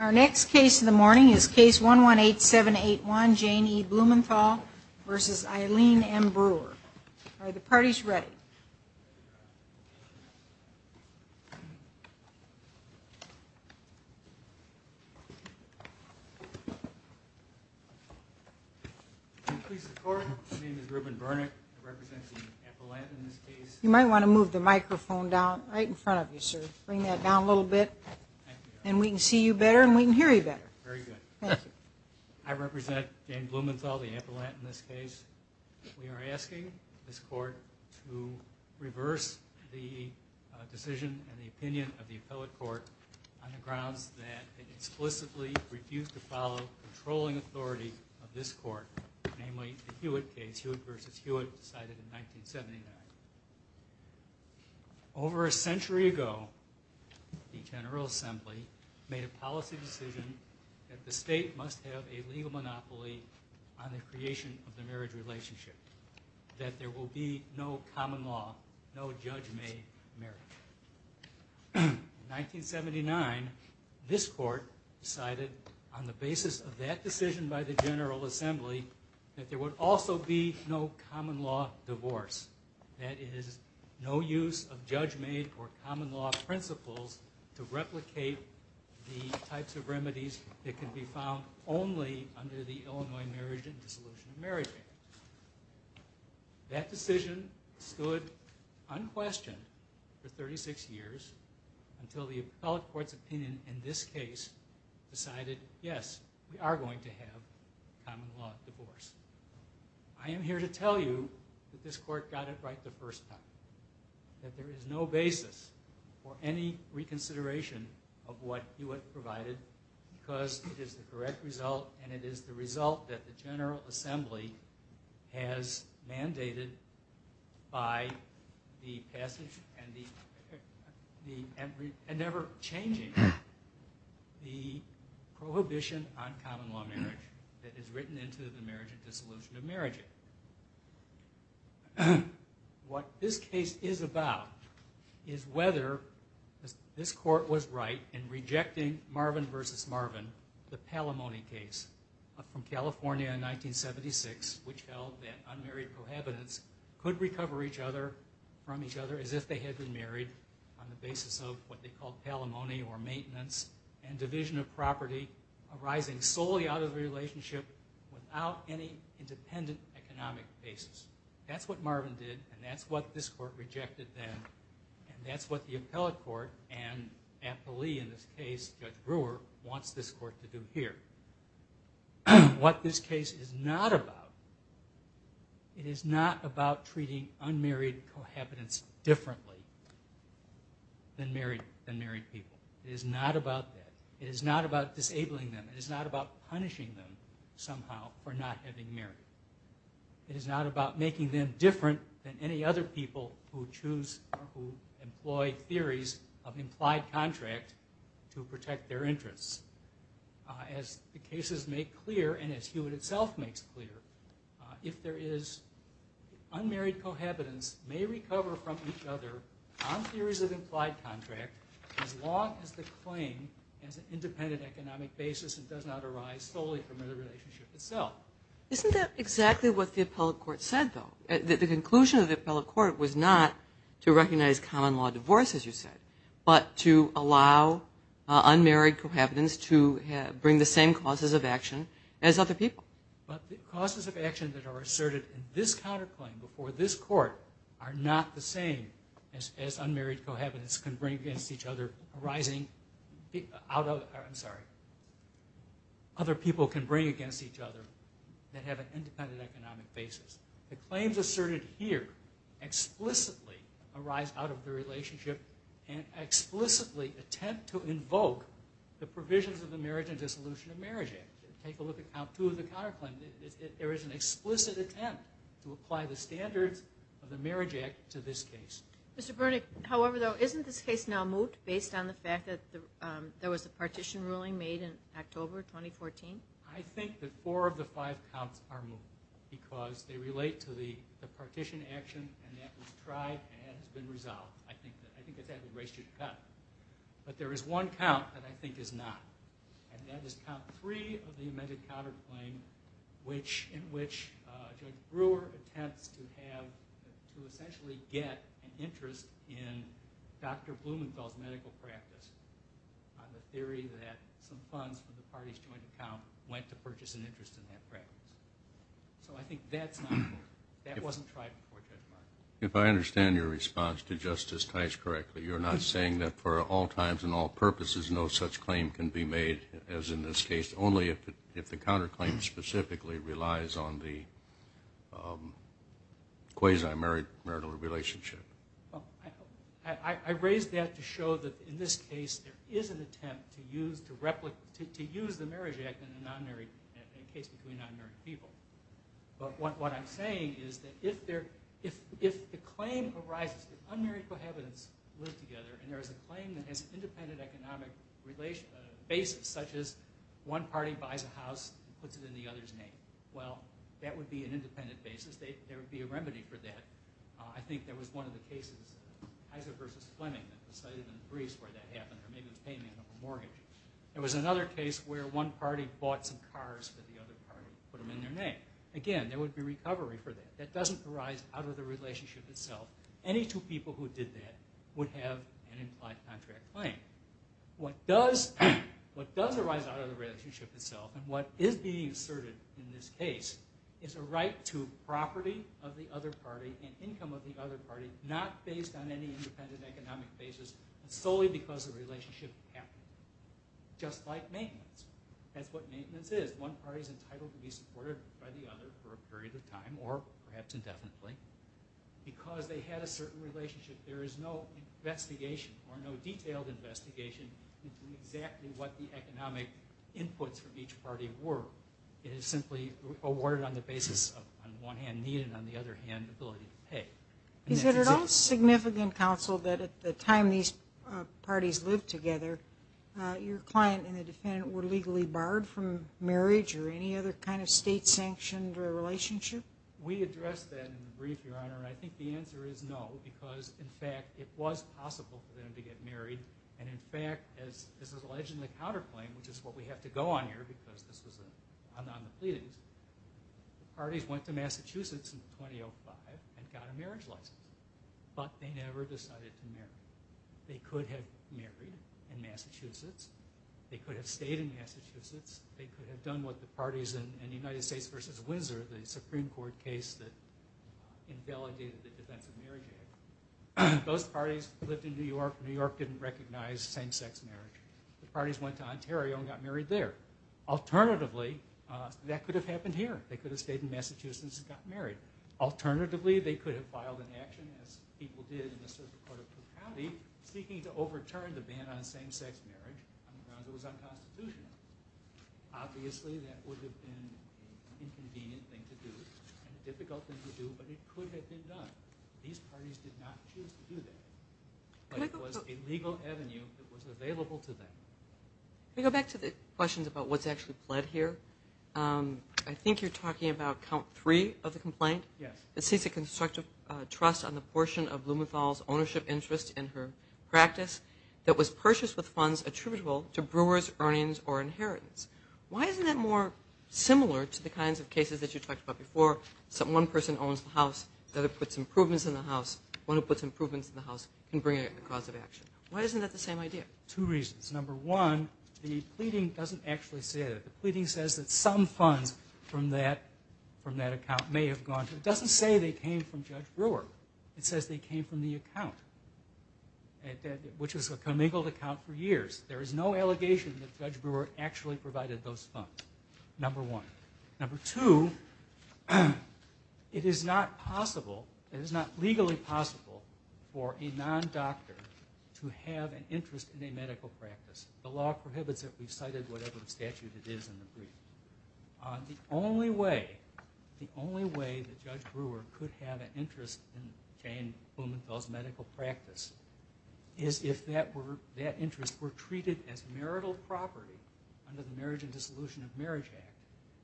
Our next case in the morning is case 118781, Jane E. Blumenthal v. Eileen M. Brewer. Are the parties ready? You might want to move the microphone down right in front of you sir. Bring that down a little bit and we can see you better and we can hear you better. Very good. I represent Jane Blumenthal, the ambulant in this case. We are asking this court to reverse the decision and the opinion of the appellate court on the grounds that it explicitly refused to follow controlling authority of this court, namely the Hewitt case, Hewitt v. Hewitt decided in 1979. Over a century ago, the General Assembly made a policy decision that the state must have a legal monopoly on the creation of the marriage relationship, that there will be no common law, no judge-made marriage. In 1979, this court decided on the basis of that decision by the General Assembly that there would also be no common law divorce. That is, no use of judge-made or common law principles to replicate the types of remedies that can be found only under the Illinois marriage and dissolution of marriage. That decision stood unquestioned for 36 years until the appellate court's opinion in this case decided, yes, we are going to have a common law divorce. I am here to tell you that this court got it right the first time, that there is no basis for any reconsideration of what Hewitt provided because it is the correct result and it is the result that the General Assembly has mandated by the passage and never changing the prohibition on marriage and dissolution of marriage. What this case is about is whether this court was right in rejecting Marvin v. Marvin, the Palomoni case from California in 1976, which held that unmarried prohibitants could recover each other from each other as if they had been married on the basis of what they called Palomoni or maintenance and division of property arising solely out of a relationship without any independent economic basis. That's what Marvin did and that's what this court rejected then and that's what the appellate court and appellee in this case, Judge Brewer, wants this court to do here. What this case is not about, it is not about treating unmarried prohibitants differently than married people. It is not about that. It is not about disabling them. It is not about punishing them somehow for not having married. It is not about making them different than any other people who choose or who employ theories of implied contract to protect their interests. As the cases make clear and as Hewitt itself makes clear, if there is unmarried prohibitants may recover from each other on theories of implied contract as long as the claim as independent economic basis and does not arise solely from the relationship itself. Isn't that exactly what the appellate court said though? That the conclusion of the appellate court was not to recognize common law divorce as you said, but to allow unmarried prohibitants to bring the same causes of action as other people. But the causes of action that are asserted in this counterclaim before this court are not the same as unmarried prohibitants can bring against each other arising out of, I'm sorry, other people can bring against each other that have an independent economic basis. The claims asserted here explicitly arise out of the relationship and explicitly attempt to invoke the provisions of the Marriage and Dissolution of Marriage Act. Take a look at count two of the counterclaim. There is an explicit attempt to apply the standards of the Marriage Act to this case. Mr. Brunick, however though, isn't this case now moot based on the fact that there was a partition ruling made in October 2014? I think that four of the five counts are moot because they relate to the partition action and that was tried and has been resolved. I think that that would raise you to cut. But there is one count that I think is not. And that is count three of the amended counterclaim in which Judge Brewer attempts to have, to essentially get an interest in Dr. Blumenfeld's medical practice on the theory that some funds from the party's joint account went to purchase an interest in that practice. So I think that's not, that wasn't tried before Judge Brewer. If I understand your response to Justice Tice correctly, you're not saying that for all times and all purposes no such claim can be made as in this case, only if the counterclaim specifically relies on the quasi-marital relationship. I raised that to show that in this case there is an attempt to use, to replicate, to use the Marriage Act in a non-married, in a case between non-married people. But what I'm saying is that if there, if the claim arises that unmarried cohabitants live together and there is a claim that has an independent economic basis, such as one party buys a house and puts it in the other's name. Well, that would be an independent basis. There would be a remedy for that. I think there was one of the cases, Heiser versus Fleming, that was cited in the briefs where that happened. Or maybe it was payment of a mortgage. There was another case where one party bought some cars for the other party and put them in their name. Again, there would be recovery for that. That doesn't arise out of the relationship itself. Any two people who did that would have an implied contract claim. What does arise out of the relationship itself, and what is being asserted in this case, is a right to property of the other party and income of the other party, not based on any independent economic basis, solely because the relationship happened. Just like maintenance. That's what maintenance is. One party is entitled to be supported by the other for a period of time, or perhaps indefinitely, because they had a certain relationship. There is no investigation or no detailed investigation into exactly what the economic inputs from each party were. It is simply awarded on the basis of, on the one hand, need, and on the other hand, ability to pay. Is it at all significant, counsel, that at the time these parties lived together, your client and the defendant were legally barred from marriage or any other kind of state-sanctioned relationship? We addressed that in the brief, Your Honor. I think the answer is no, because, in fact, it was possible for them to get married. In fact, this is alleged in the counterclaim, which is what we have to go on here, because this was on the pleadings. The parties went to Massachusetts in 2005 and got a marriage license, but they never decided to marry. They could have married in Massachusetts. They could have stayed in Massachusetts. They could have done what the parties in the United States v. Windsor, the Supreme Court case that invalidated the Defense of Marriage Act. Those parties lived in New York. New York didn't recognize same-sex marriage. The parties went to Ontario and got married there. Alternatively, that could have happened here. They could have stayed in Massachusetts and got married. Alternatively, they could have filed an action, as people did in the Supreme Court of Krakow, seeking to overturn the ban on same-sex marriage. It was unconstitutional. Obviously, that would have been an inconvenient thing to do and a difficult thing to do, but it could have been done. These parties did not choose to do that, but it was a legal avenue that was available to them. Let me go back to the questions about what's actually pled here. I think you're talking about count three of the complaint. Yes. It states a constructive trust on the portion of Blumenthal's ownership interest in her practice that was purchased with funds attributable to brewers, earnings, or inheritance. Why isn't that more similar to the kinds of cases that you talked about before? One person owns the house. The other puts improvements in the house. One who puts improvements in the house can bring a cause of action. Why isn't that the same idea? Two reasons. Number one, the pleading doesn't actually say that. The pleading says that some funds from that account may have gone to her. It doesn't say they came from Judge Brewer. It says they came from the account, which was a commingled account for years. There is no allegation that Judge Brewer actually provided those funds, number one. Number two, it is not possible, it is not legally possible for a non-doctor to have an interest in a medical practice. The law prohibits it. We've cited whatever statute it is in the brief. The only way, the only way that Judge Brewer could have an interest in Jane Blumenthal's medical practice is if that interest were treated as marital property under the Marriage and Dissolution of Marriage Act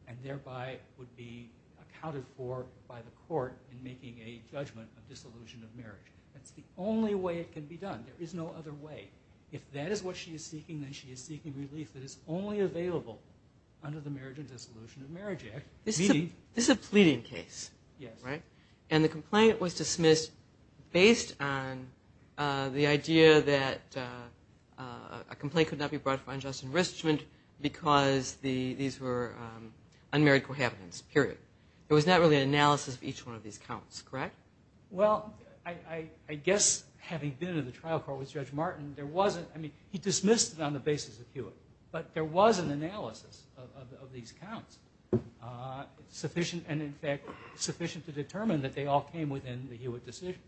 and thereby would be accounted for by the court in making a judgment of dissolution of marriage. That's the only way it can be done. There is no other way. If that is what she is seeking, then she is seeking relief that is only available under the Marriage and Dissolution of Marriage Act. This is a pleading case, right? And the complaint was dismissed based on the idea that a complaint could not be brought for unjust enrichment because these were unmarried cohabitants, period. It was not really an analysis of each one of these counts, correct? Well, I guess having been in the trial court with Judge Martin, there wasn't, I mean, he dismissed it on the basis of Hewitt. But there was an analysis of these counts, sufficient, and in fact, sufficient to determine that they all came within the Hewitt decision.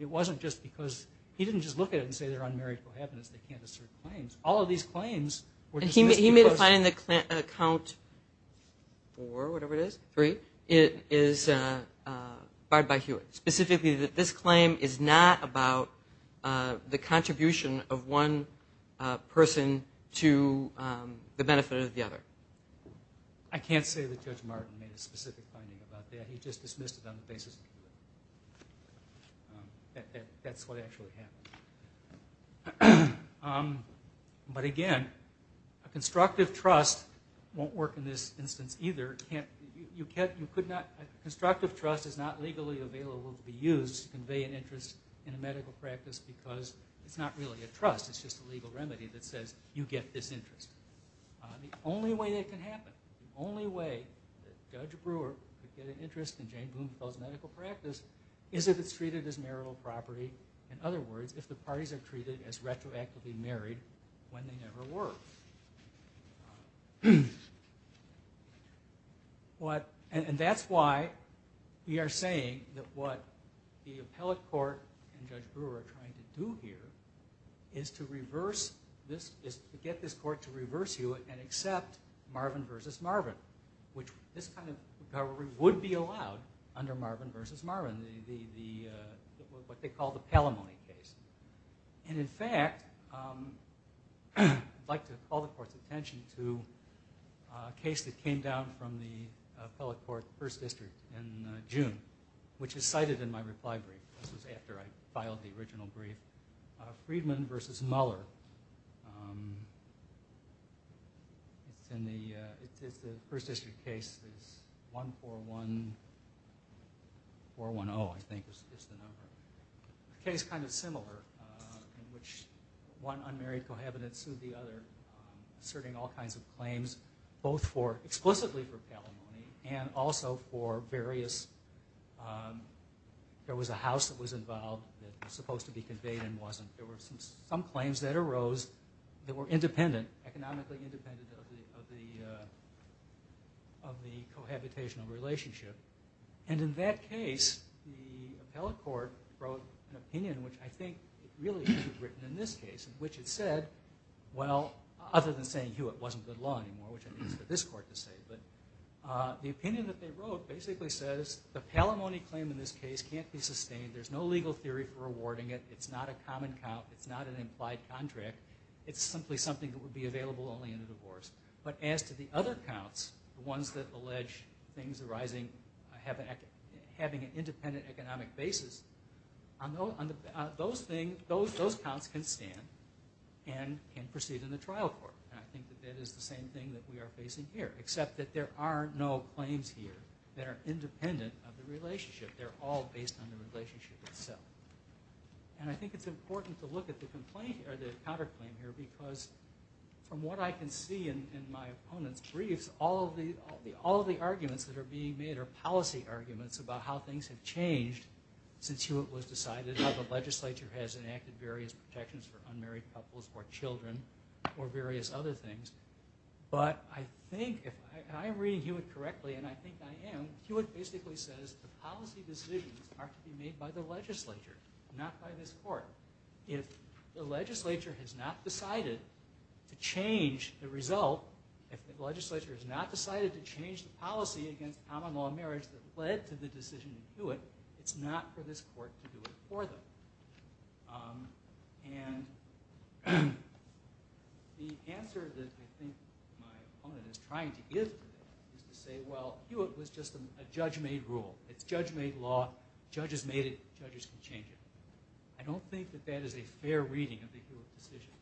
It wasn't just because, he didn't just look at it and say they're unmarried cohabitants, they can't assert claims. All of these claims were dismissed because... And he made a claim that count four, whatever it is, three, is barred by Hewitt, specifically that this claim is not about the contribution of one person to the benefit of the other. I can't say that Judge Martin made a specific finding about that. He just dismissed it on the basis of Hewitt. That's what actually happened. But again, a constructive trust won't work in this instance either. A constructive trust is not legally available to be used to convey an interest in a medical practice because it's not really a trust. It's just a legal remedy that says you get this interest. The only way that can happen, the only way that Judge Brewer could get an interest in Jane Boonfell's medical practice is if it's treated as marital property. In other words, if the parties are treated as retroactively married when they never were. And that's why we are saying that what the appellate court and Judge Brewer are trying to do here is to get this court to reverse Hewitt and accept Marvin v. Marvin, which this kind of recovery would be allowed under Marvin v. Marvin, what they call the Palomoni case. And in fact, I'd like to call the court's attention to a case that came down from the appellate court First District in June, which is cited in my reply brief. This was after I filed the original brief. Friedman v. Muller. It's the First District case. It's 141410, I think is the number. A case kind of similar in which one unmarried cohabitant sued the other, asserting all kinds of claims, both explicitly for Palomoni and also for various... There was a house that was involved that was supposed to be conveyed and wasn't. There were some claims that arose that were independent, economically independent of the cohabitational relationship. And in that case, the appellate court wrote an opinion, which I think really should be written in this case, in which it said, well, other than saying Hewitt wasn't good law anymore, which I think it's for this court to say, but the opinion that they wrote basically says the Palomoni claim in this case can't be sustained. There's no legal theory for awarding it. It's not a common count. It's not an implied contract. It's simply something that would be available only in a divorce. But as to the other counts, the ones that allege things arising, having an independent economic basis, those counts can stand and can proceed in the trial court. And I think that that is the same thing that we are facing here, except that there are no claims here that are independent of the relationship. They're all based on the relationship itself. And I think it's important to look at the complaint here, the counterclaim here, because from what I can see in my opponent's briefs, all of the arguments that are being made are policy arguments about how things have changed since Hewitt was decided, how the legislature has enacted various protections for unmarried couples or children or various other things. But I think, and I am reading Hewitt correctly, and I think I am, Hewitt basically says the policy decisions are to be made by the legislature, not by this court. If the legislature has not decided to change the result, if the legislature has not decided to change the policy against common-law marriage that led to the decision in Hewitt, it's not for this court to do it for them. And the answer that I think my opponent is trying to give to that is to say, well, Hewitt was just a judge-made rule. It's judge-made law. Judges made it. Judges can change it. I don't think that that is a fair reading of the Hewitt decision.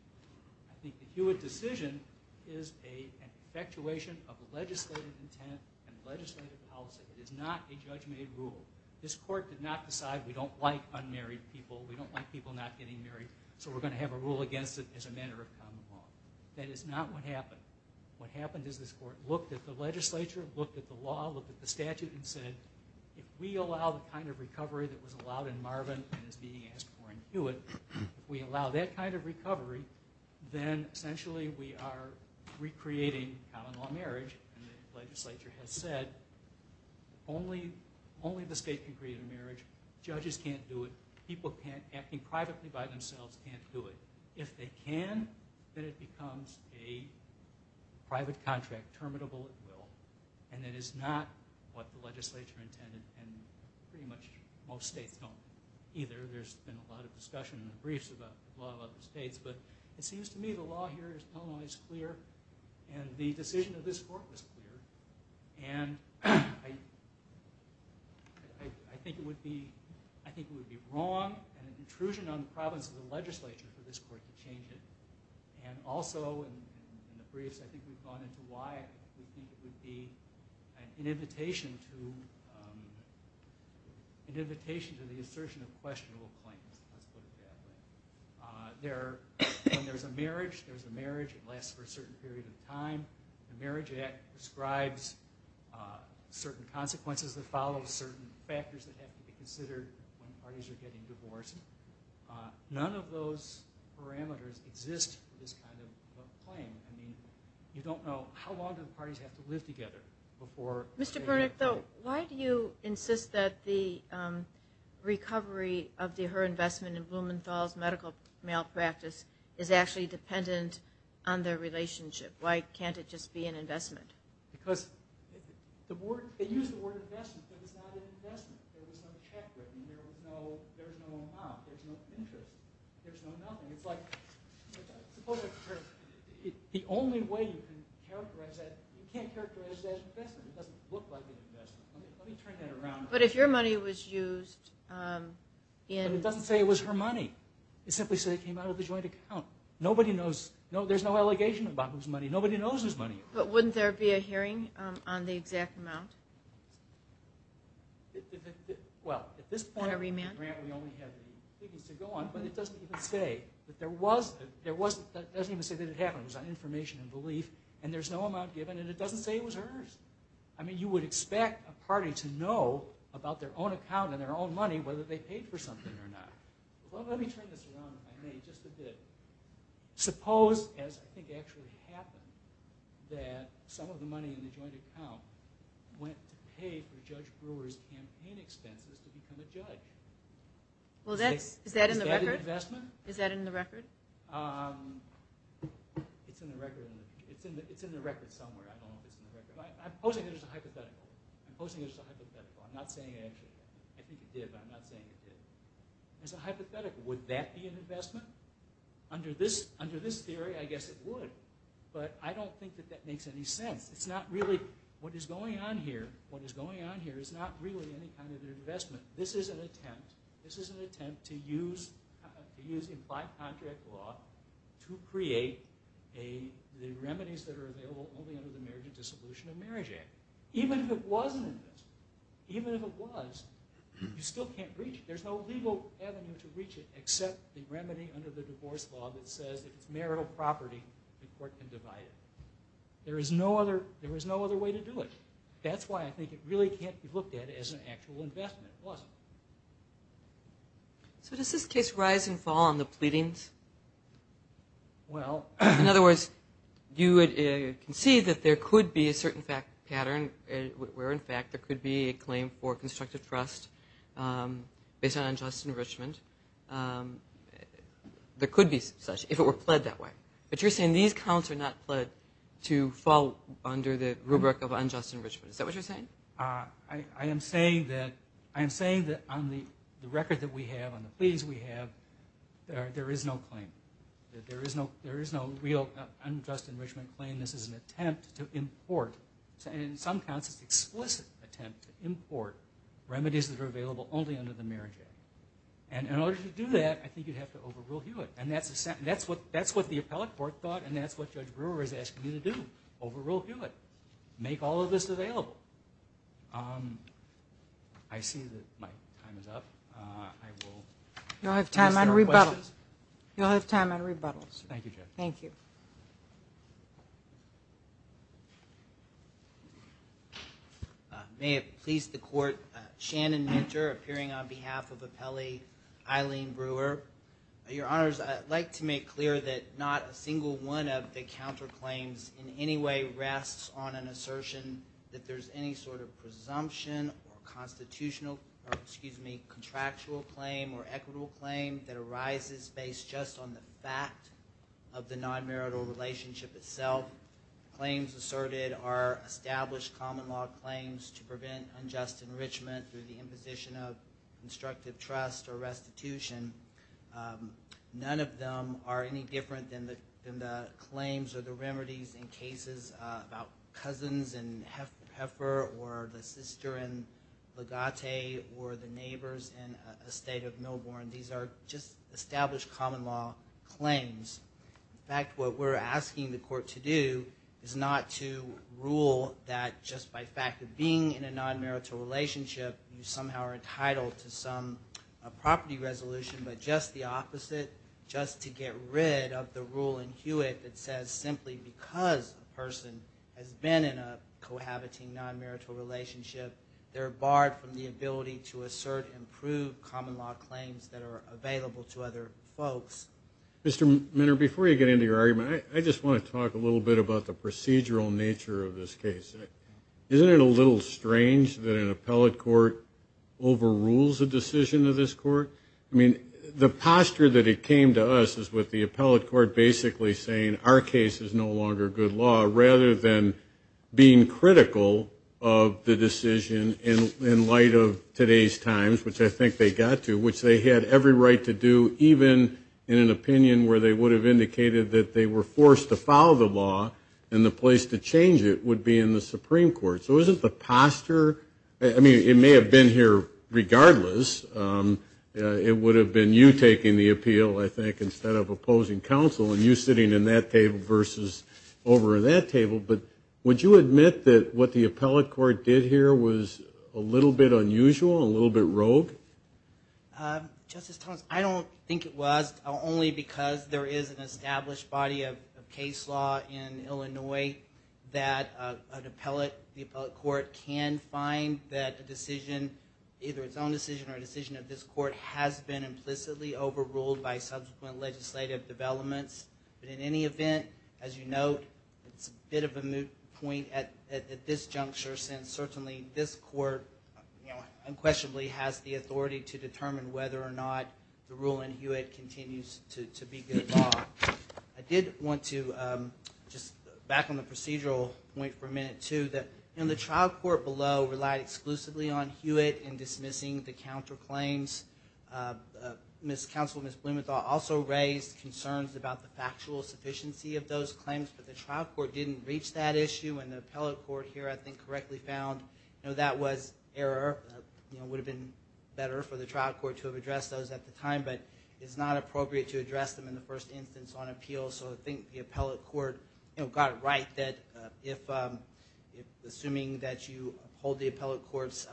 I think the Hewitt decision is an effectuation of legislative intent and legislative policy. It is not a judge-made rule. This court did not decide we don't like unmarried people, we don't like people not getting married, so we're going to have a rule against it as a matter of common law. That is not what happened. What happened is this court looked at the legislature, looked at the law, looked at the statute, and said, if we allow the kind of recovery that was allowed in Marvin and is being asked for in Hewitt, if we allow that kind of recovery, then essentially we are recreating common-law marriage. And the legislature has said only the state can create a marriage. Judges can't do it. People acting privately by themselves can't do it. If they can, then it becomes a private contract, terminable at will. And it is not what the legislature intended, and pretty much most states don't either. There's been a lot of discussion in the briefs about the law of other states, but it seems to me the law here in Illinois is clear, and the decision of this court was clear. And I think it would be wrong and an intrusion on the province of the legislature for this court to change it. And also in the briefs I think we've gone into why we think it would be an invitation to the assertion of questionable claims, let's put it that way. When there's a marriage, there's a marriage. It lasts for a certain period of time. The Marriage Act describes certain consequences that follow, certain factors that have to be considered when parties are getting divorced. None of those parameters exist for this kind of claim. I mean, you don't know how long do the parties have to live together before they get married. Mr. Bernick, though, why do you insist that the recovery of her investment in Blumenthal's medical malpractice is actually dependent on their relationship? Why can't it just be an investment? Because they use the word investment, but it's not an investment. There was no check written. There was no amount. There's no interest. There's no nothing. It's like the only way you can characterize that, you can't characterize that as investment. It doesn't look like an investment. Let me turn that around. But if your money was used in – But it doesn't say it was her money. It simply said it came out of a joint account. Nobody knows. There's no allegation about whose money. Nobody knows whose money. But wouldn't there be a hearing on the exact amount? Well, at this point, Grant, we only have the evidence to go on, but it doesn't even say that it happened. It was on information and belief, and there's no amount given, and it doesn't say it was hers. I mean, you would expect a party to know about their own account and their own money whether they paid for something or not. Let me turn this around, if I may, just a bit. Suppose, as I think actually happened, that some of the money in the joint account went to pay for Judge Brewer's campaign expenses to become a judge. Is that an investment? Is that in the record? It's in the record somewhere. I don't know if it's in the record. I'm posing it as a hypothetical. I'm posing it as a hypothetical. I'm not saying it actually did. I think it did, but I'm not saying it did. It's a hypothetical. Would that be an investment? Under this theory, I guess it would. But I don't think that that makes any sense. It's not really what is going on here. What is going on here is not really any kind of an investment. This is an attempt to use implied contract law to create the remedies that are available only under the Marriage and Dissolution of Marriage Act. Even if it was an investment, even if it was, you still can't breach it. There's no legal avenue to breach it except the remedy under the divorce law that says if it's marital property, the court can divide it. There is no other way to do it. That's why I think it really can't be looked at as an actual investment. So does this case rise and fall on the pleadings? In other words, you can see that there could be a certain pattern where, in fact, there could be a claim for constructive trust based on unjust enrichment. There could be such if it were pled that way. But you're saying these counts are not pled to fall under the rubric of unjust enrichment. Is that what you're saying? I am saying that on the record that we have, on the pleadings we have, there is no claim. There is no real unjust enrichment claim. This is an attempt to import, in some counts, it's an explicit attempt to import remedies that are available only under the Marriage Act. And in order to do that, I think you'd have to overrule Hewitt. And that's what the appellate court thought, and that's what Judge Brewer is asking you to do. Overrule Hewitt. Make all of this available. I see that my time is up. You'll have time on rebuttals. You'll have time on rebuttals. Thank you, Judge. Thank you. May it please the court, Shannon Minter appearing on behalf of appellee Eileen Brewer. Your Honors, I'd like to make clear that not a single one of the counterclaims in any way rests on an assertion that there's any sort of presumption or constitutional or, excuse me, contractual claim or equitable claim that arises based just on the fact of the non-marital relationship itself. Claims asserted are established common law claims to prevent unjust enrichment through the imposition of constructive trust or restitution. None of them are any different than the claims or the remedies in cases about cousins in Heifer or the sister in Legate or the neighbors in a state of Milborn. These are just established common law claims. In fact, what we're asking the court to do is not to rule that just by fact of being in a non-marital relationship, you somehow are entitled to some property resolution, but just the opposite, just to get rid of the rule in Hewitt that says simply because a person has been in a cohabiting non-marital relationship, they're barred from the ability to assert and prove common law claims that are available to other folks. Mr. Minter, before you get into your argument, I just want to talk a little bit about the procedural nature of this case. Isn't it a little strange that an appellate court overrules a decision of this court? I mean, the posture that it came to us is with the appellate court basically saying, our case is no longer good law, rather than being critical of the decision in light of today's times, which I think they got to, which they had every right to do, even in an opinion where they would have indicated that they were forced to follow the law and the place to change it would be in the Supreme Court. So isn't the posture, I mean, it may have been here regardless. It would have been you taking the appeal, I think, instead of opposing counsel, and you sitting in that table versus over in that table. But would you admit that what the appellate court did here was a little bit unusual, a little bit rogue? Justice Thomas, I don't think it was, only because there is an established body of case law in Illinois that an appellate court can find that a decision, either its own decision or a decision of this court, has been implicitly overruled by subsequent legislative developments. But in any event, as you note, it's a bit of a moot point at this juncture, since certainly this court unquestionably has the authority to determine whether or not the rule in Hewitt continues to be good law. I did want to, just back on the procedural point for a minute, too, that the trial court below relied exclusively on Hewitt in dismissing the counterclaims. Ms. Blumenthal also raised concerns about the factual sufficiency of those claims, but the trial court didn't reach that issue, and the appellate court here, I think, correctly found that was error. It would have been better for the trial court to have addressed those at the time, but it's not appropriate to address them in the first instance on appeal, so I think the appellate court got it right that if, assuming that you hold the appellate court's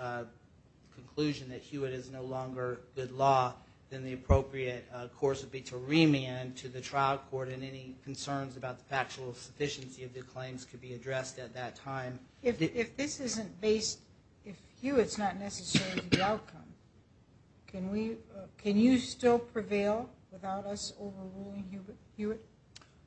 conclusion that Hewitt is no longer good law, then the appropriate course would be to remand to the trial court and any concerns about the factual sufficiency of the claims could be addressed at that time. If this isn't based, if Hewitt's not necessary to the outcome, can you still prevail without us overruling Hewitt?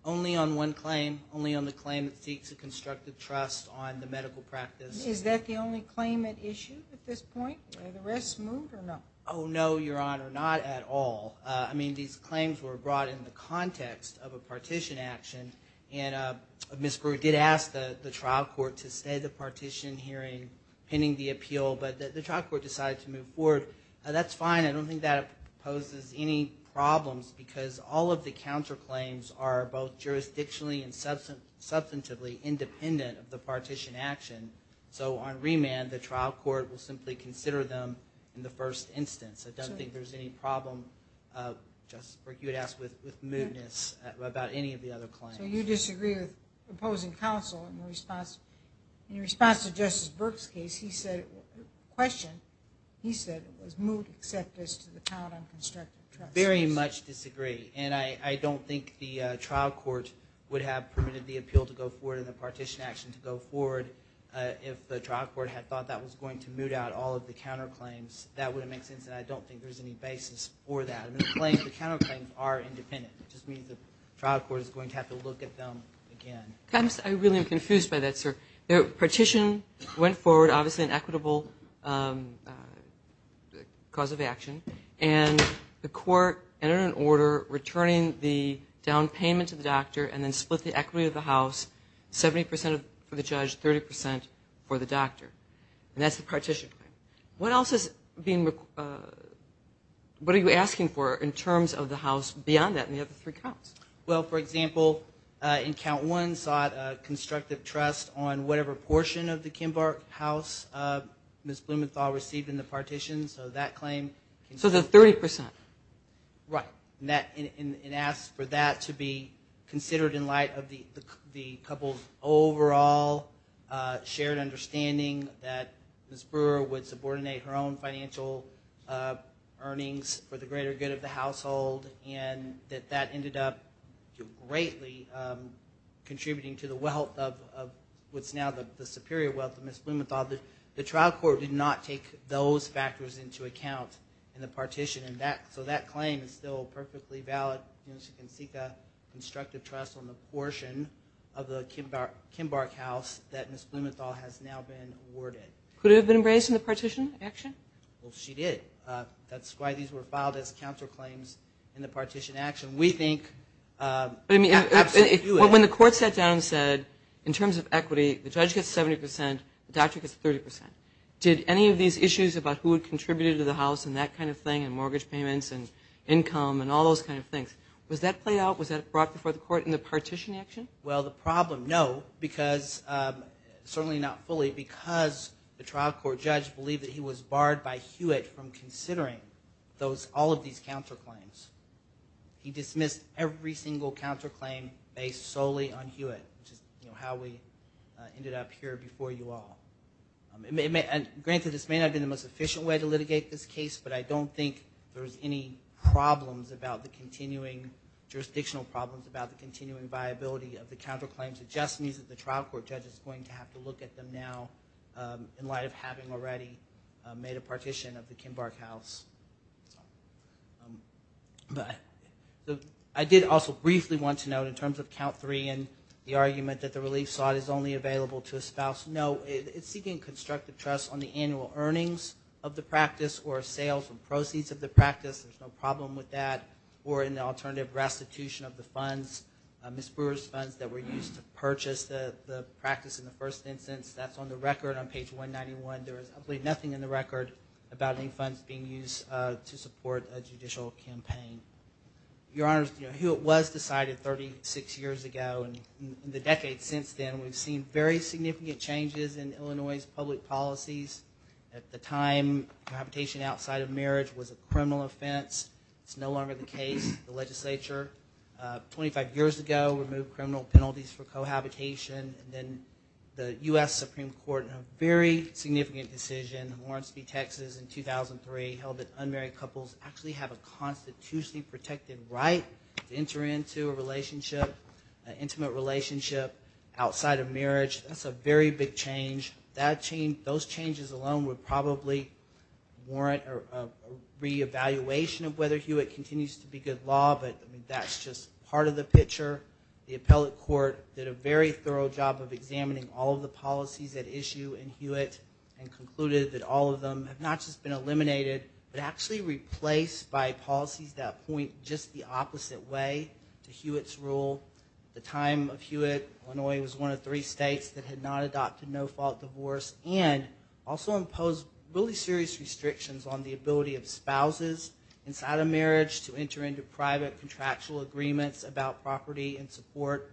Only on one claim, only on the claim that seeks a constructive trust on the medical practice. Is that the only claim at issue at this point? Are the rest moved or not? Oh, no, Your Honor, not at all. I mean, these claims were brought in the context of a partition action, and Ms. Brewer did ask the trial court to stay the partition hearing pending the appeal, but the trial court decided to move forward. That's fine. I don't think that poses any problems because all of the counterclaims are both jurisdictionally and substantively independent of the partition action, so on remand the trial court will simply consider them in the first instance. I don't think there's any problem. Justice Burke, you had asked with mootness about any of the other claims. So you disagree with opposing counsel in response to Justice Burke's question. He said it was moot except as to the count on constructive trust. I very much disagree, and I don't think the trial court would have permitted the appeal to go forward and the partition action to go forward if the trial court had thought that was going to moot out all of the counterclaims. That wouldn't make sense, and I don't think there's any basis for that. The counterclaims are independent. It just means the trial court is going to have to look at them again. I really am confused by that, sir. The partition went forward, obviously an equitable cause of action, and the court entered an order returning the down payment to the doctor and then split the equity of the house 70 percent for the judge, 30 percent for the doctor. And that's the partition claim. What else is being – what are you asking for in terms of the house beyond that and the other three counts? Well, for example, in count one sought constructive trust on whatever portion of the Kimbark house Ms. Blumenthal received in the partition, so that claim – So the 30 percent. Right, and asked for that to be considered in light of the couple's overall shared understanding that Ms. Brewer would subordinate her own financial earnings for the greater good of the household and that that ended up greatly contributing to the wealth of what's now the superior wealth of Ms. Blumenthal. The trial court did not take those factors into account in the partition, so that claim is still perfectly valid. She can seek a constructive trust on the portion of the Kimbark house that Ms. Blumenthal has now been awarded. Could it have been embraced in the partition action? Well, she did. That's why these were filed as counterclaims in the partition action. We think – When the court sat down and said, in terms of equity, the judge gets 70 percent, the doctor gets 30 percent, did any of these issues about who had contributed to the house and that kind of thing and mortgage payments and income and all those kind of things, was that played out, was that brought before the court in the partition action? Well, the problem, no, because – certainly not fully – because the trial court judge believed that he was barred by Hewitt from considering all of these counterclaims. He dismissed every single counterclaim based solely on Hewitt, which is how we ended up here before you all. Granted, this may not have been the most efficient way to litigate this case, but I don't think there was any problems about the continuing – jurisdictional problems about the continuing viability of the counterclaims. It just means that the trial court judge is going to have to look at them now in light of having already made a partition of the Kimbark house. But I did also briefly want to note in terms of count three and the argument that the relief slot is only available to a spouse, no, it's seeking constructive trust on the annual earnings of the practice or sales and proceeds of the practice, there's no problem with that, or in the alternative restitution of the funds, Ms. Brewer's funds that were used to purchase the practice in the first instance. That's on the record on page 191. There is, I believe, nothing in the record about any funds being used to support a judicial campaign. Your Honors, Hewitt was decided 36 years ago, and in the decades since then, we've seen very significant changes in Illinois' public policies. At the time, cohabitation outside of marriage was a criminal offense. It's no longer the case. The legislature 25 years ago removed criminal penalties for cohabitation, and then the U.S. Supreme Court, in a very significant decision, in Lawrence v. Texas in 2003, held that unmarried couples actually have a constitutionally protected right to enter into a relationship, an intimate relationship outside of marriage. That's a very big change. Those changes alone would probably warrant a reevaluation of whether Hewitt continues to be good law, but that's just part of the picture. The appellate court did a very thorough job of examining all of the policies at issue in Hewitt and concluded that all of them have not just been eliminated, but actually replaced by policies that point just the opposite way to Hewitt's rule. At the time of Hewitt, Illinois was one of three states that had not adopted no-fault divorce to enter into private contractual agreements about property and support.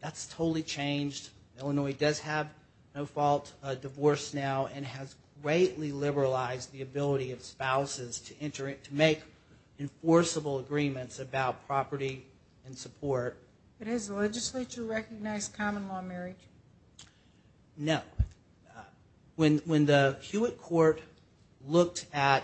That's totally changed. Illinois does have no-fault divorce now and has greatly liberalized the ability of spouses to make enforceable agreements about property and support. But has the legislature recognized common-law marriage? No. When the Hewitt court looked at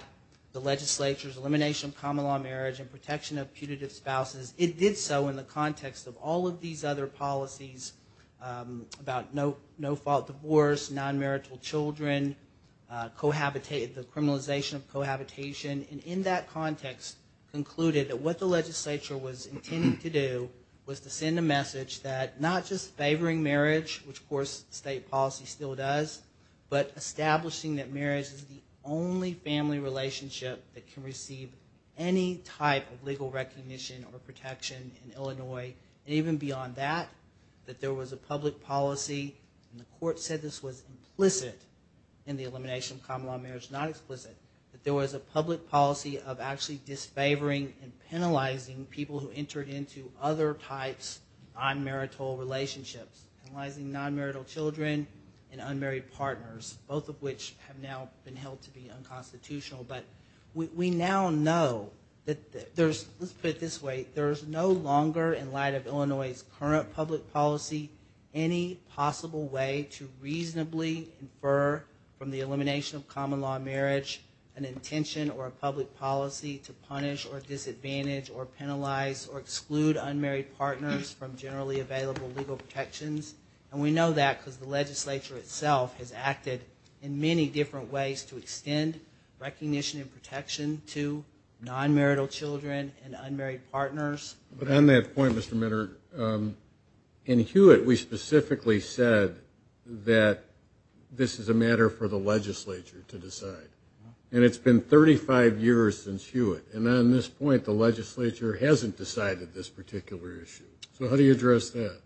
the legislature's elimination of common-law marriage and protection of putative spouses, it did so in the context of all of these other policies about no-fault divorce, non-marital children, the criminalization of cohabitation, and in that context concluded that what the legislature was intending to do was to send a message that not just favoring marriage, which of course state policy still does, but establishing that marriage is the only family relationship that can receive any type of legal recognition or protection in Illinois, and even beyond that, that there was a public policy, and the court said this was implicit in the elimination of common-law marriage, not explicit, that there was a public policy of actually disfavoring and penalizing people who entered into other types of non-marital relationships, penalizing non-marital children and unmarried partners, both of which have now been held to be unconstitutional. But we now know that there's, let's put it this way, there's no longer in light of Illinois' current public policy any possible way to reasonably infer from the elimination of common-law marriage an intention or a public policy to punish or disadvantage or penalize or exclude unmarried partners from generally available legal protections, and we know that because the legislature itself has acted in many different ways to extend recognition and protection to non-marital children and unmarried partners. But on that point, Mr. Minard, in Hewitt we specifically said that this is a matter for the legislature to decide, and it's been 35 years since Hewitt, and on this point the legislature hasn't decided this particular issue. So how do you address that?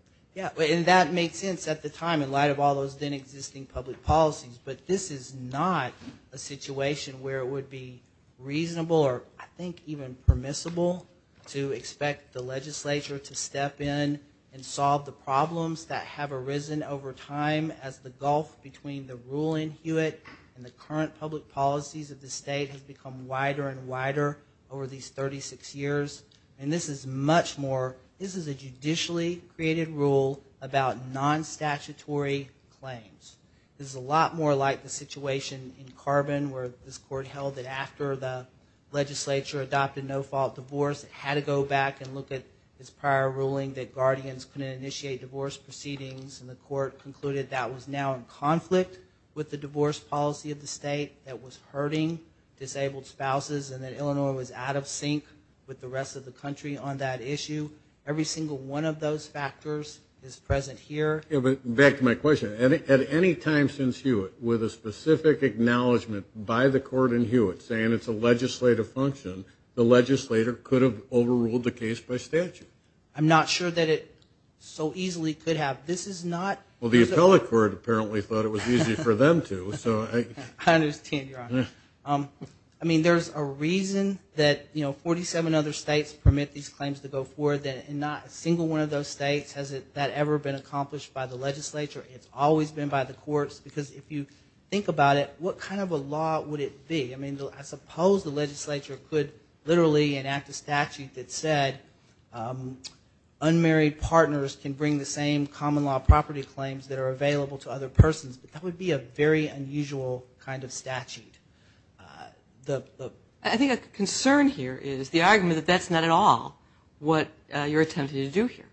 And that made sense at the time in light of all those then-existing public policies, but this is not a situation where it would be reasonable or I think even permissible to expect the legislature to step in and solve the problems that have arisen over time as the gulf between the ruling Hewitt and the current public policies of the state has become wider and wider over these 36 years. And this is much more, this is a judicially created rule about non-statutory claims. This is a lot more like the situation in Carbon where this court held that after the legislature adopted no-fault divorce, it had to go back and look at its prior ruling that guardians couldn't initiate divorce proceedings, and the court concluded that was now in conflict with the divorce policy of the state that was hurting disabled spouses and that Illinois was out of sync with the rest of the country on that issue. Every single one of those factors is present here. But back to my question, at any time since Hewitt, with a specific acknowledgment by the court in Hewitt saying it's a legislative function, the legislator could have overruled the case by statute. I'm not sure that it so easily could have. Well, the appellate court apparently thought it was easy for them to. I understand, Your Honor. I mean, there's a reason that, you know, 47 other states permit these claims to go forward and not a single one of those states has that ever been accomplished by the legislature. It's always been by the courts because if you think about it, what kind of a law would it be? I mean, I suppose the legislature could literally enact a statute that said unmarried partners can bring the same common law property claims that are available to other persons, but that would be a very unusual kind of statute. I think a concern here is the argument that that's not at all what you're attempting to do here,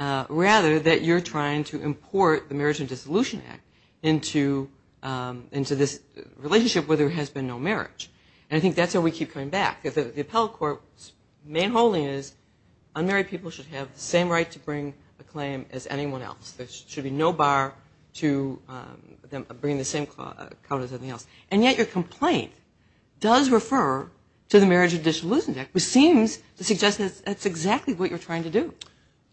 rather that you're trying to import the Marriage and Dissolution Act into this relationship where there has been no marriage. And I think that's where we keep coming back, because the appellate court's main holding is unmarried people should have the same right to bring a claim as anyone else. There should be no bar to them bringing the same claim as anyone else. And yet your complaint does refer to the Marriage and Dissolution Act, which seems to suggest that that's exactly what you're trying to do.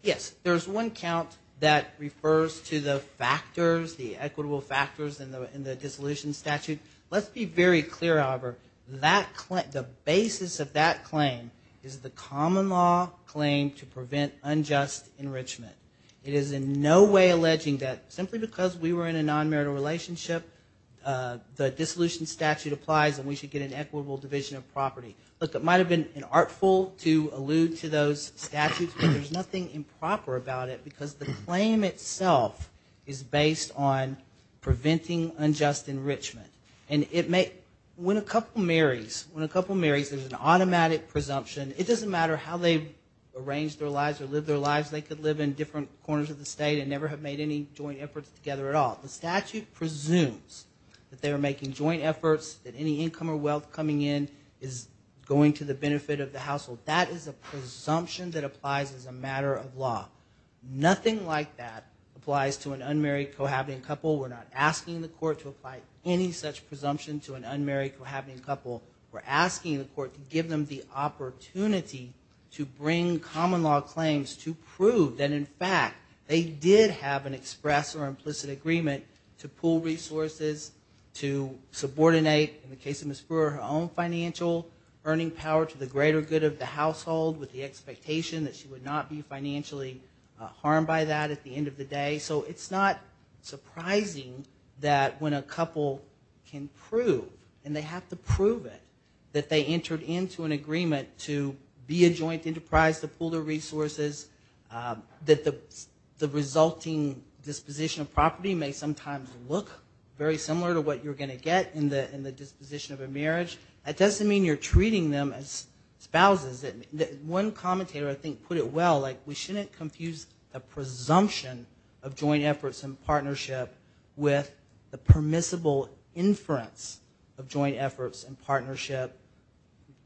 Yes, there's one count that refers to the factors, the equitable factors in the dissolution statute. Let's be very clear, however. The basis of that claim is the common law claim to prevent unjust enrichment. It is in no way alleging that simply because we were in a non-marital relationship, the dissolution statute applies and we should get an equitable division of property. Look, it might have been an artful to allude to those statutes, but there's nothing improper about it because the claim itself is based on preventing unjust enrichment. And when a couple marries, when a couple marries, there's an automatic presumption. It doesn't matter how they arrange their lives or live their lives. They could live in different corners of the state and never have made any joint efforts together at all. The statute presumes that they are making joint efforts, that any income or wealth coming in is going to the benefit of the household. That is a presumption that applies as a matter of law. Nothing like that applies to an unmarried, cohabiting couple. We're not asking the court to apply any such presumption to an unmarried, cohabiting couple. We're asking the court to give them the opportunity to bring common law claims to prove that, in fact, they did have an express or implicit agreement to pool resources, to subordinate, in the case of Ms. Brewer, her own financial earning power to the greater good of the household with the expectation that she would not be financially harmed by that at the end of the day. So it's not surprising that when a couple can prove, and they have to prove it, that they entered into an agreement to be a joint enterprise to pool their resources, that the resulting disposition of property may sometimes look very similar to what you're going to get in the disposition of a marriage. That doesn't mean you're treating them as spouses. One commentator, I think, put it well. We shouldn't confuse the presumption of joint efforts in partnership with the permissible inference of joint efforts in partnership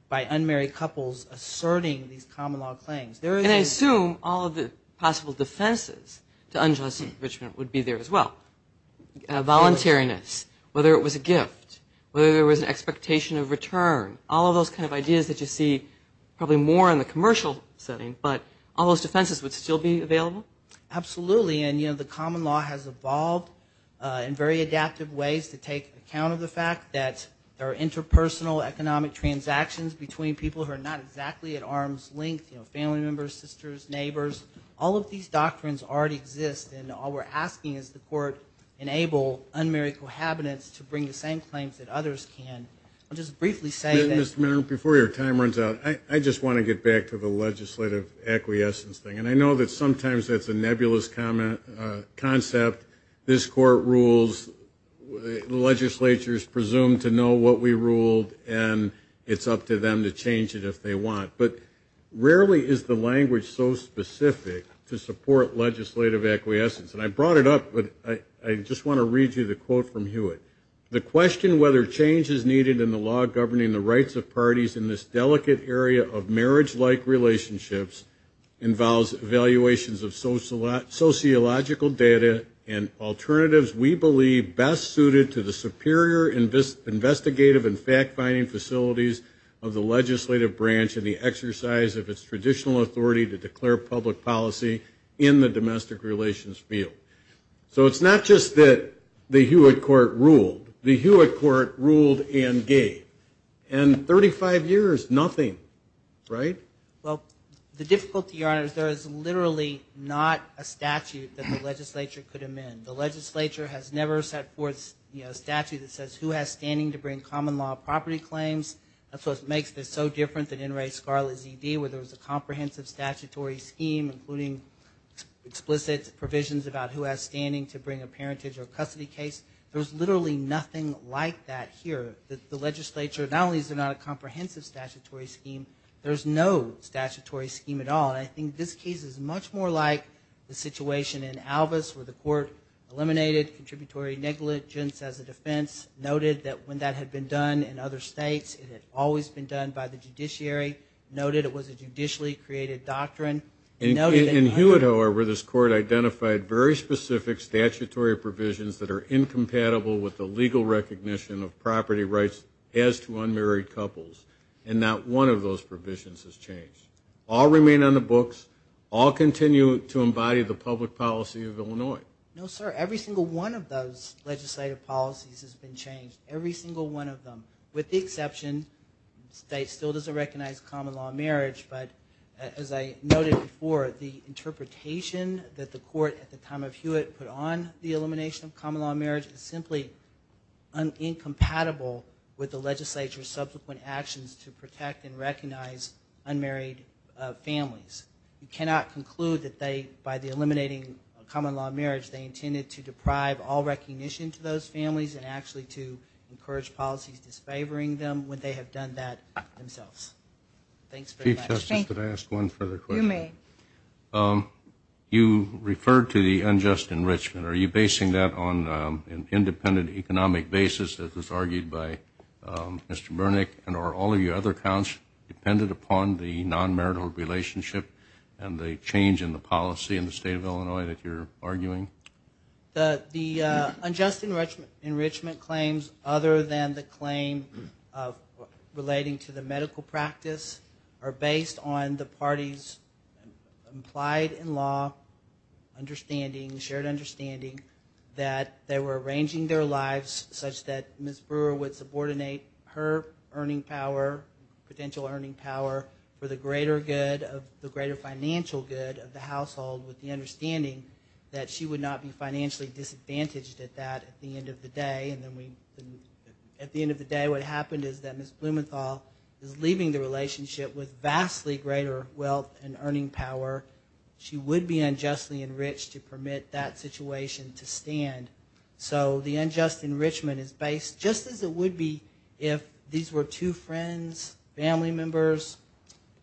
by unmarried couples asserting these common law claims. And I assume all of the possible defenses to unjust enrichment would be there as well. Voluntariness, whether it was a gift, whether there was an expectation of return, all of those kind of ideas that you see probably more in the commercial setting, but all those defenses would still be available? Absolutely. And, you know, the common law has evolved in very adaptive ways to take account of the fact that there are interpersonal economic transactions between people who are not exactly at arm's length, you know, family members, sisters, neighbors. All of these doctrines already exist, and all we're asking is the court enable unmarried cohabitants to bring the same claims that others can. I'll just briefly say that. Mr. Minner, before your time runs out, I just want to get back to the legislative acquiescence thing. And I know that sometimes that's a nebulous concept. This court rules. The legislature is presumed to know what we ruled, and it's up to them to change it if they want. But rarely is the language so specific to support legislative acquiescence. And I brought it up, but I just want to read you the quote from Hewitt. The question whether change is needed in the law governing the rights of parties in this delicate area of marriage-like relationships involves evaluations of sociological data and alternatives we believe best suited to the superior investigative and fact-finding facilities of the legislative branch and the exercise of its traditional authority to declare public policy in the domestic relations field. So it's not just that the Hewitt court ruled. The Hewitt court ruled and gave. And 35 years, nothing. Well, the difficulty, Your Honor, is there is literally not a statute that the legislature could amend. The legislature has never set forth a statute that says who has standing to bring common law property claims. That's what makes this so different than In re Scarla ZD where there was a comprehensive statutory scheme including explicit provisions about who has standing to bring a parentage or custody case. There's literally nothing like that here. The legislature, not only is there not a comprehensive statutory scheme, there's no statutory scheme at all. And I think this case is much more like the situation in Alvis where the court eliminated contributory negligence as a defense, noted that when that had been done in other states, it had always been done by the judiciary, noted it was a judicially created doctrine, and noted that- In Hewitt, however, this court identified very specific statutory provisions that are incompatible with the legal recognition of property rights as to unmarried couples. And not one of those provisions has changed. All remain on the books. All continue to embody the public policy of Illinois. No, sir. Every single one of those legislative policies has been changed. Every single one of them. With the exception, the state still doesn't recognize common law in marriage, but as I noted before, the interpretation that the court, at the time of Hewitt, put on the elimination of common law in marriage is simply incompatible with the legislature's subsequent actions to protect and recognize unmarried families. You cannot conclude that by eliminating common law in marriage, they intended to deprive all recognition to those families and actually to encourage policies disfavoring them when they have done that themselves. Thanks very much. Chief Justice, could I ask one further question? You may. You referred to the unjust enrichment. Are you basing that on an independent economic basis, as was argued by Mr. Burnick, and are all of your other accounts dependent upon the non-marital relationship and the change in the policy in the state of Illinois that you're arguing? The unjust enrichment claims, other than the claim relating to the medical practice, are based on the party's implied in law understanding, shared understanding, that they were arranging their lives such that Ms. Brewer would subordinate her earning power, potential earning power, for the greater financial good of the household with the understanding that she would not be financially disadvantaged at that at the end of the day, and at the end of the day what happened is that Ms. Blumenthal is leaving the relationship with vastly greater wealth and earning power. She would be unjustly enriched to permit that situation to stand. So the unjust enrichment is based, just as it would be if these were two friends, family members,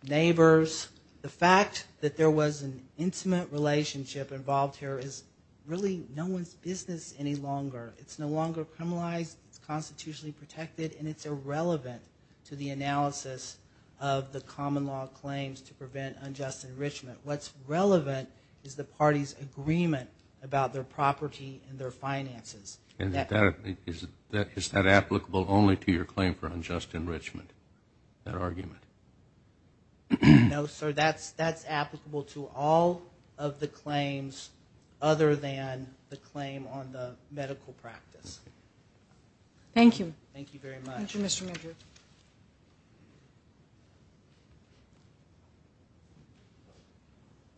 neighbors. The fact that there was an intimate relationship involved here is really no one's business any longer. It's no longer criminalized, it's constitutionally protected, and it's irrelevant to the analysis of the common law claims to prevent unjust enrichment. What's relevant is the party's agreement about their property and their finances. And is that applicable only to your claim for unjust enrichment, that argument? No, sir, that's applicable to all of the claims other than the claim on the medical practice. Thank you. Thank you very much. Thank you, Mr. Madrid.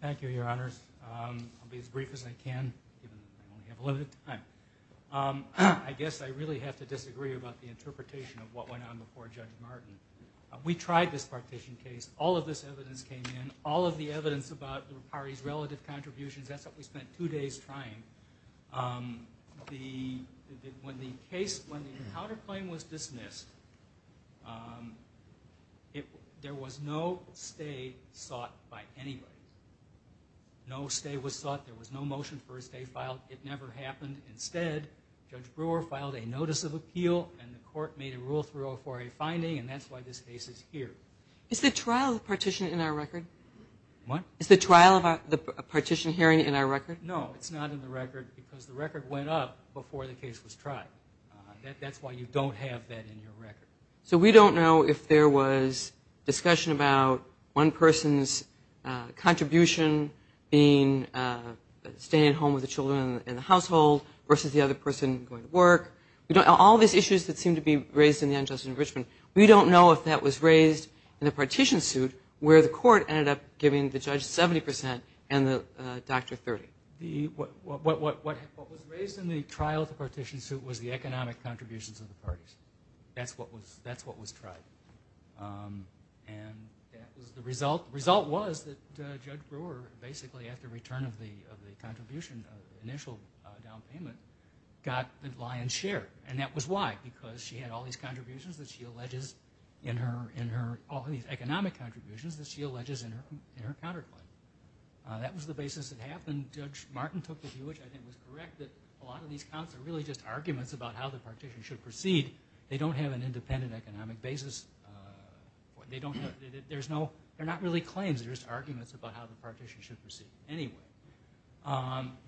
Thank you, Your Honors. I'll be as brief as I can, even though we have limited time. I guess I really have to disagree about the interpretation of what went on before Judge Martin. We tried this partition case. All of this evidence came in. All of the evidence about the parties' relative contributions, that's what we spent two days trying. When the counterclaim was dismissed, there was no stay sought by anybody. No stay was sought. There was no motion for a stay filed. It never happened. Instead, Judge Brewer filed a notice of appeal, and the court made a rule 304A finding, and that's why this case is here. Is the trial partition in our record? What? Is the trial of the partition hearing in our record? No, it's not in the record because the record went up before the case was tried. That's why you don't have that in your record. So we don't know if there was discussion about one person's contribution being staying at home with the children in the household versus the other person going to work. All these issues that seem to be raised in the injustice in Richmond, we don't know if that was raised in the partition suit where the court ended up giving the judge 70% and the doctor 30%. What was raised in the trial of the partition suit was the economic contributions of the parties. That's what was tried. And the result was that Judge Brewer basically, after return of the contribution of the initial down payment, got the lion's share, and that was why, because she had all these economic contributions that she alleges in her counterclaim. That was the basis that happened. Judge Martin took the view, which I think was correct, that a lot of these counts are really just arguments about how the partition should proceed. They don't have an independent economic basis. They're not really claims. They're just arguments about how the partition should proceed anyway.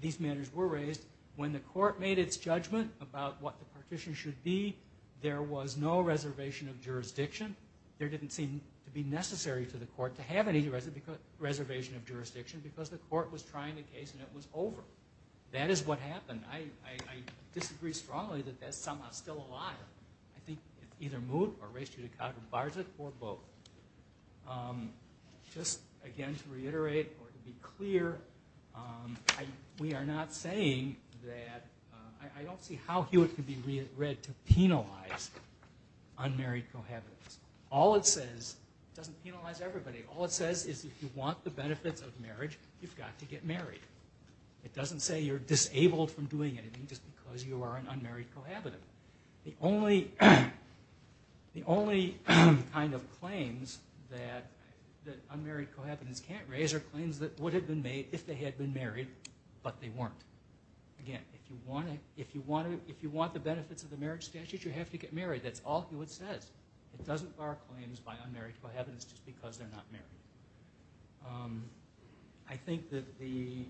These matters were raised. When the court made its judgment about what the partition should be, there was no reservation of jurisdiction. There didn't seem to be necessary to the court to have any reservation of jurisdiction because the court was trying a case and it was over. I disagree strongly that that's somehow still a lie. I think it's either Moot or Reshchudikov or Barczyk or both. Just again to reiterate or to be clear, we are not saying that, I don't see how Hewitt could be read to penalize unmarried cohabitants. All it says, it doesn't penalize everybody, all it says is if you want the benefits of marriage, you've got to get married. It doesn't say you're disabled from doing anything just because you are an unmarried cohabitant. The only kind of claims that unmarried cohabitants can't raise are claims that would have been made if they had been married, but they weren't. Again, if you want the benefits of the marriage statute, you have to get married. That's all Hewitt says. It doesn't bar claims by unmarried cohabitants just because they're not married. I think that the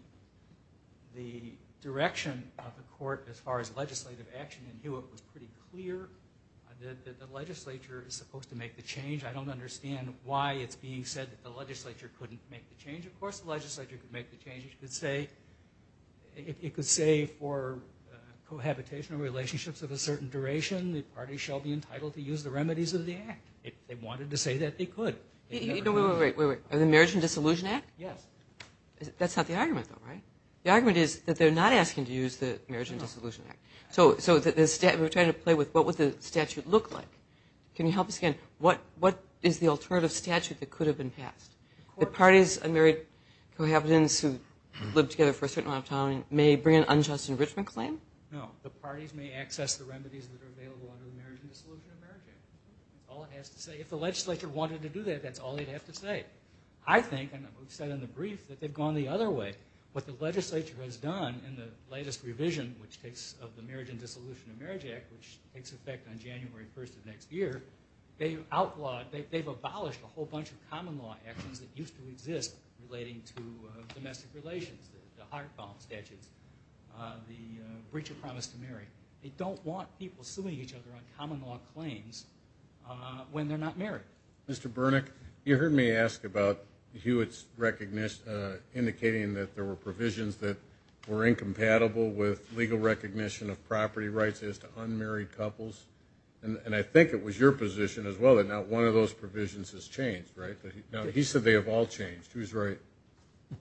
direction of the court as far as legislative action in Hewitt was pretty clear that the legislature is supposed to make the change. I don't understand why it's being said that the legislature couldn't make the change. Of course, the legislature could make the change. It could say for cohabitational relationships of a certain duration, the party shall be entitled to use the remedies of the act. If they wanted to say that, they could. Wait, wait, wait. The Marriage and Dissolution Act? Yes. That's not the argument, though, right? The argument is that they're not asking to use the Marriage and Dissolution Act. So we're trying to play with what would the statute look like. Can you help us again? What is the alternative statute that could have been passed? The parties, unmarried cohabitants who live together for a certain amount of time may bring an unjust enrichment claim? No. The parties may access the remedies that are available under the Marriage and Dissolution Act. That's all it has to say. If the legislature wanted to do that, that's all they'd have to say. I think, and we've said in the brief, that they've gone the other way. What the legislature has done in the latest revision of the Marriage and Dissolution of Marriage Act, which takes effect on January 1st of next year, they've outlawed, they've abolished a whole bunch of common law actions that used to exist relating to domestic relations, the Hartfall Statutes, the breach of promise to marry. They don't want people suing each other on common law claims when they're not married. Mr. Bernick, you heard me ask about Hewitt's indication that there were provisions that were incompatible with legal recognition of property rights as to unmarried couples, and I think it was your position as well that not one of those provisions has changed, right? He said they have all changed. Who's right?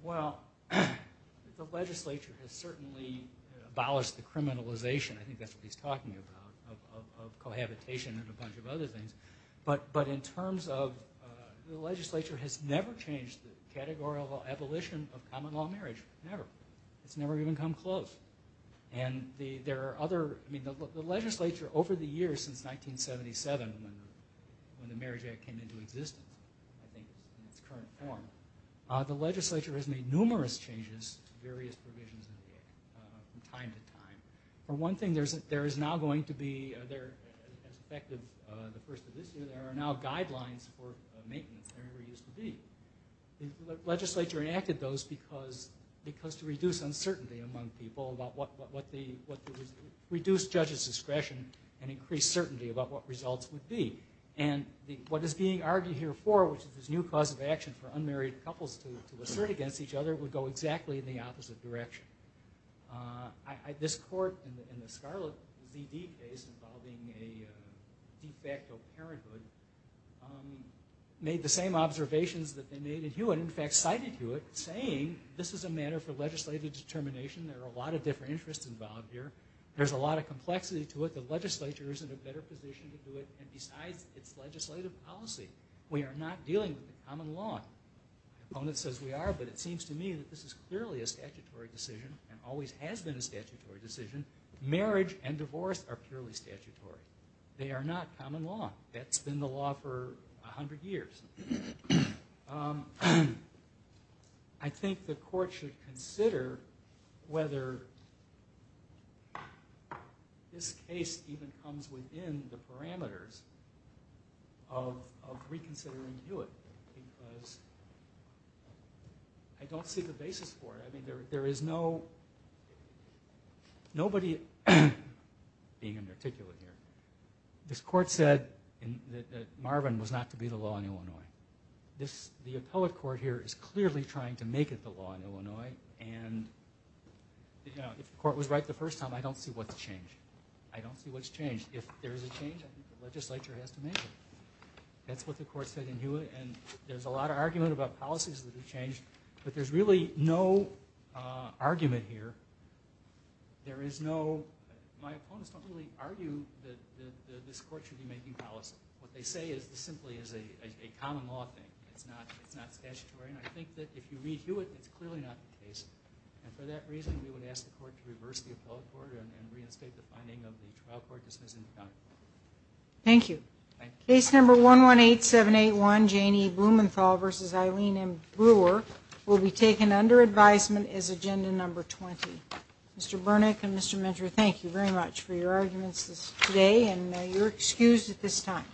Well, the legislature has certainly abolished the criminalization, I think that's what he's talking about, of cohabitation and a bunch of other things. But in terms of, the legislature has never changed the categorical abolition of common law marriage. Never. It's never even come close. And there are other, I mean, the legislature over the years since 1977, when the Marriage Act came into existence, I think in its current form, the legislature has made numerous changes to various provisions of the Act from time to time. For one thing, there is now going to be, as effective the first of this year, there are now guidelines for maintenance. There never used to be. The legislature enacted those because to reduce uncertainty among people about what the, reduce judges' discretion and increase certainty about what results would be. And what is being argued here for, which is this new cause of action for unmarried couples to assert against each other, would go exactly in the opposite direction. This court in the Scarlet ZD case involving a de facto parenthood, made the same observations that they made in Hewitt, in fact cited Hewitt, saying this is a matter for legislative determination. There are a lot of different interests involved here. There's a lot of complexity to it. The legislature is in a better position to do it. And besides, it's legislative policy. We are not dealing with the common law. The opponent says we are, but it seems to me that this is clearly a statutory decision and always has been a statutory decision. Marriage and divorce are purely statutory. They are not common law. That's been the law for 100 years. I think the court should consider whether this case even comes within the parameters of reconsidering Hewitt because I don't see the basis for it. I mean, there is no, nobody in particular here, this court said that Marvin was not to be the law in Illinois. The appellate court here is clearly trying to make it the law in Illinois, and if the court was right the first time, I don't see what's changed. I don't see what's changed. If there is a change, I think the legislature has to make it. That's what the court said in Hewitt, and there's a lot of argument about policies that have changed, but there's really no argument here. There is no, my opponents don't really argue that this court should be making policy. What they say is this simply is a common law thing. It's not statutory, and I think that if you read Hewitt, it's clearly not the case, and for that reason, we would ask the court to reverse the appellate court and reinstate the finding of the trial court dismissing the conduct. Thank you. This order will be taken under advisement as agenda number 20. Mr. Burnick and Mr. Mentor, thank you very much for your arguments today, and you're excused at this time.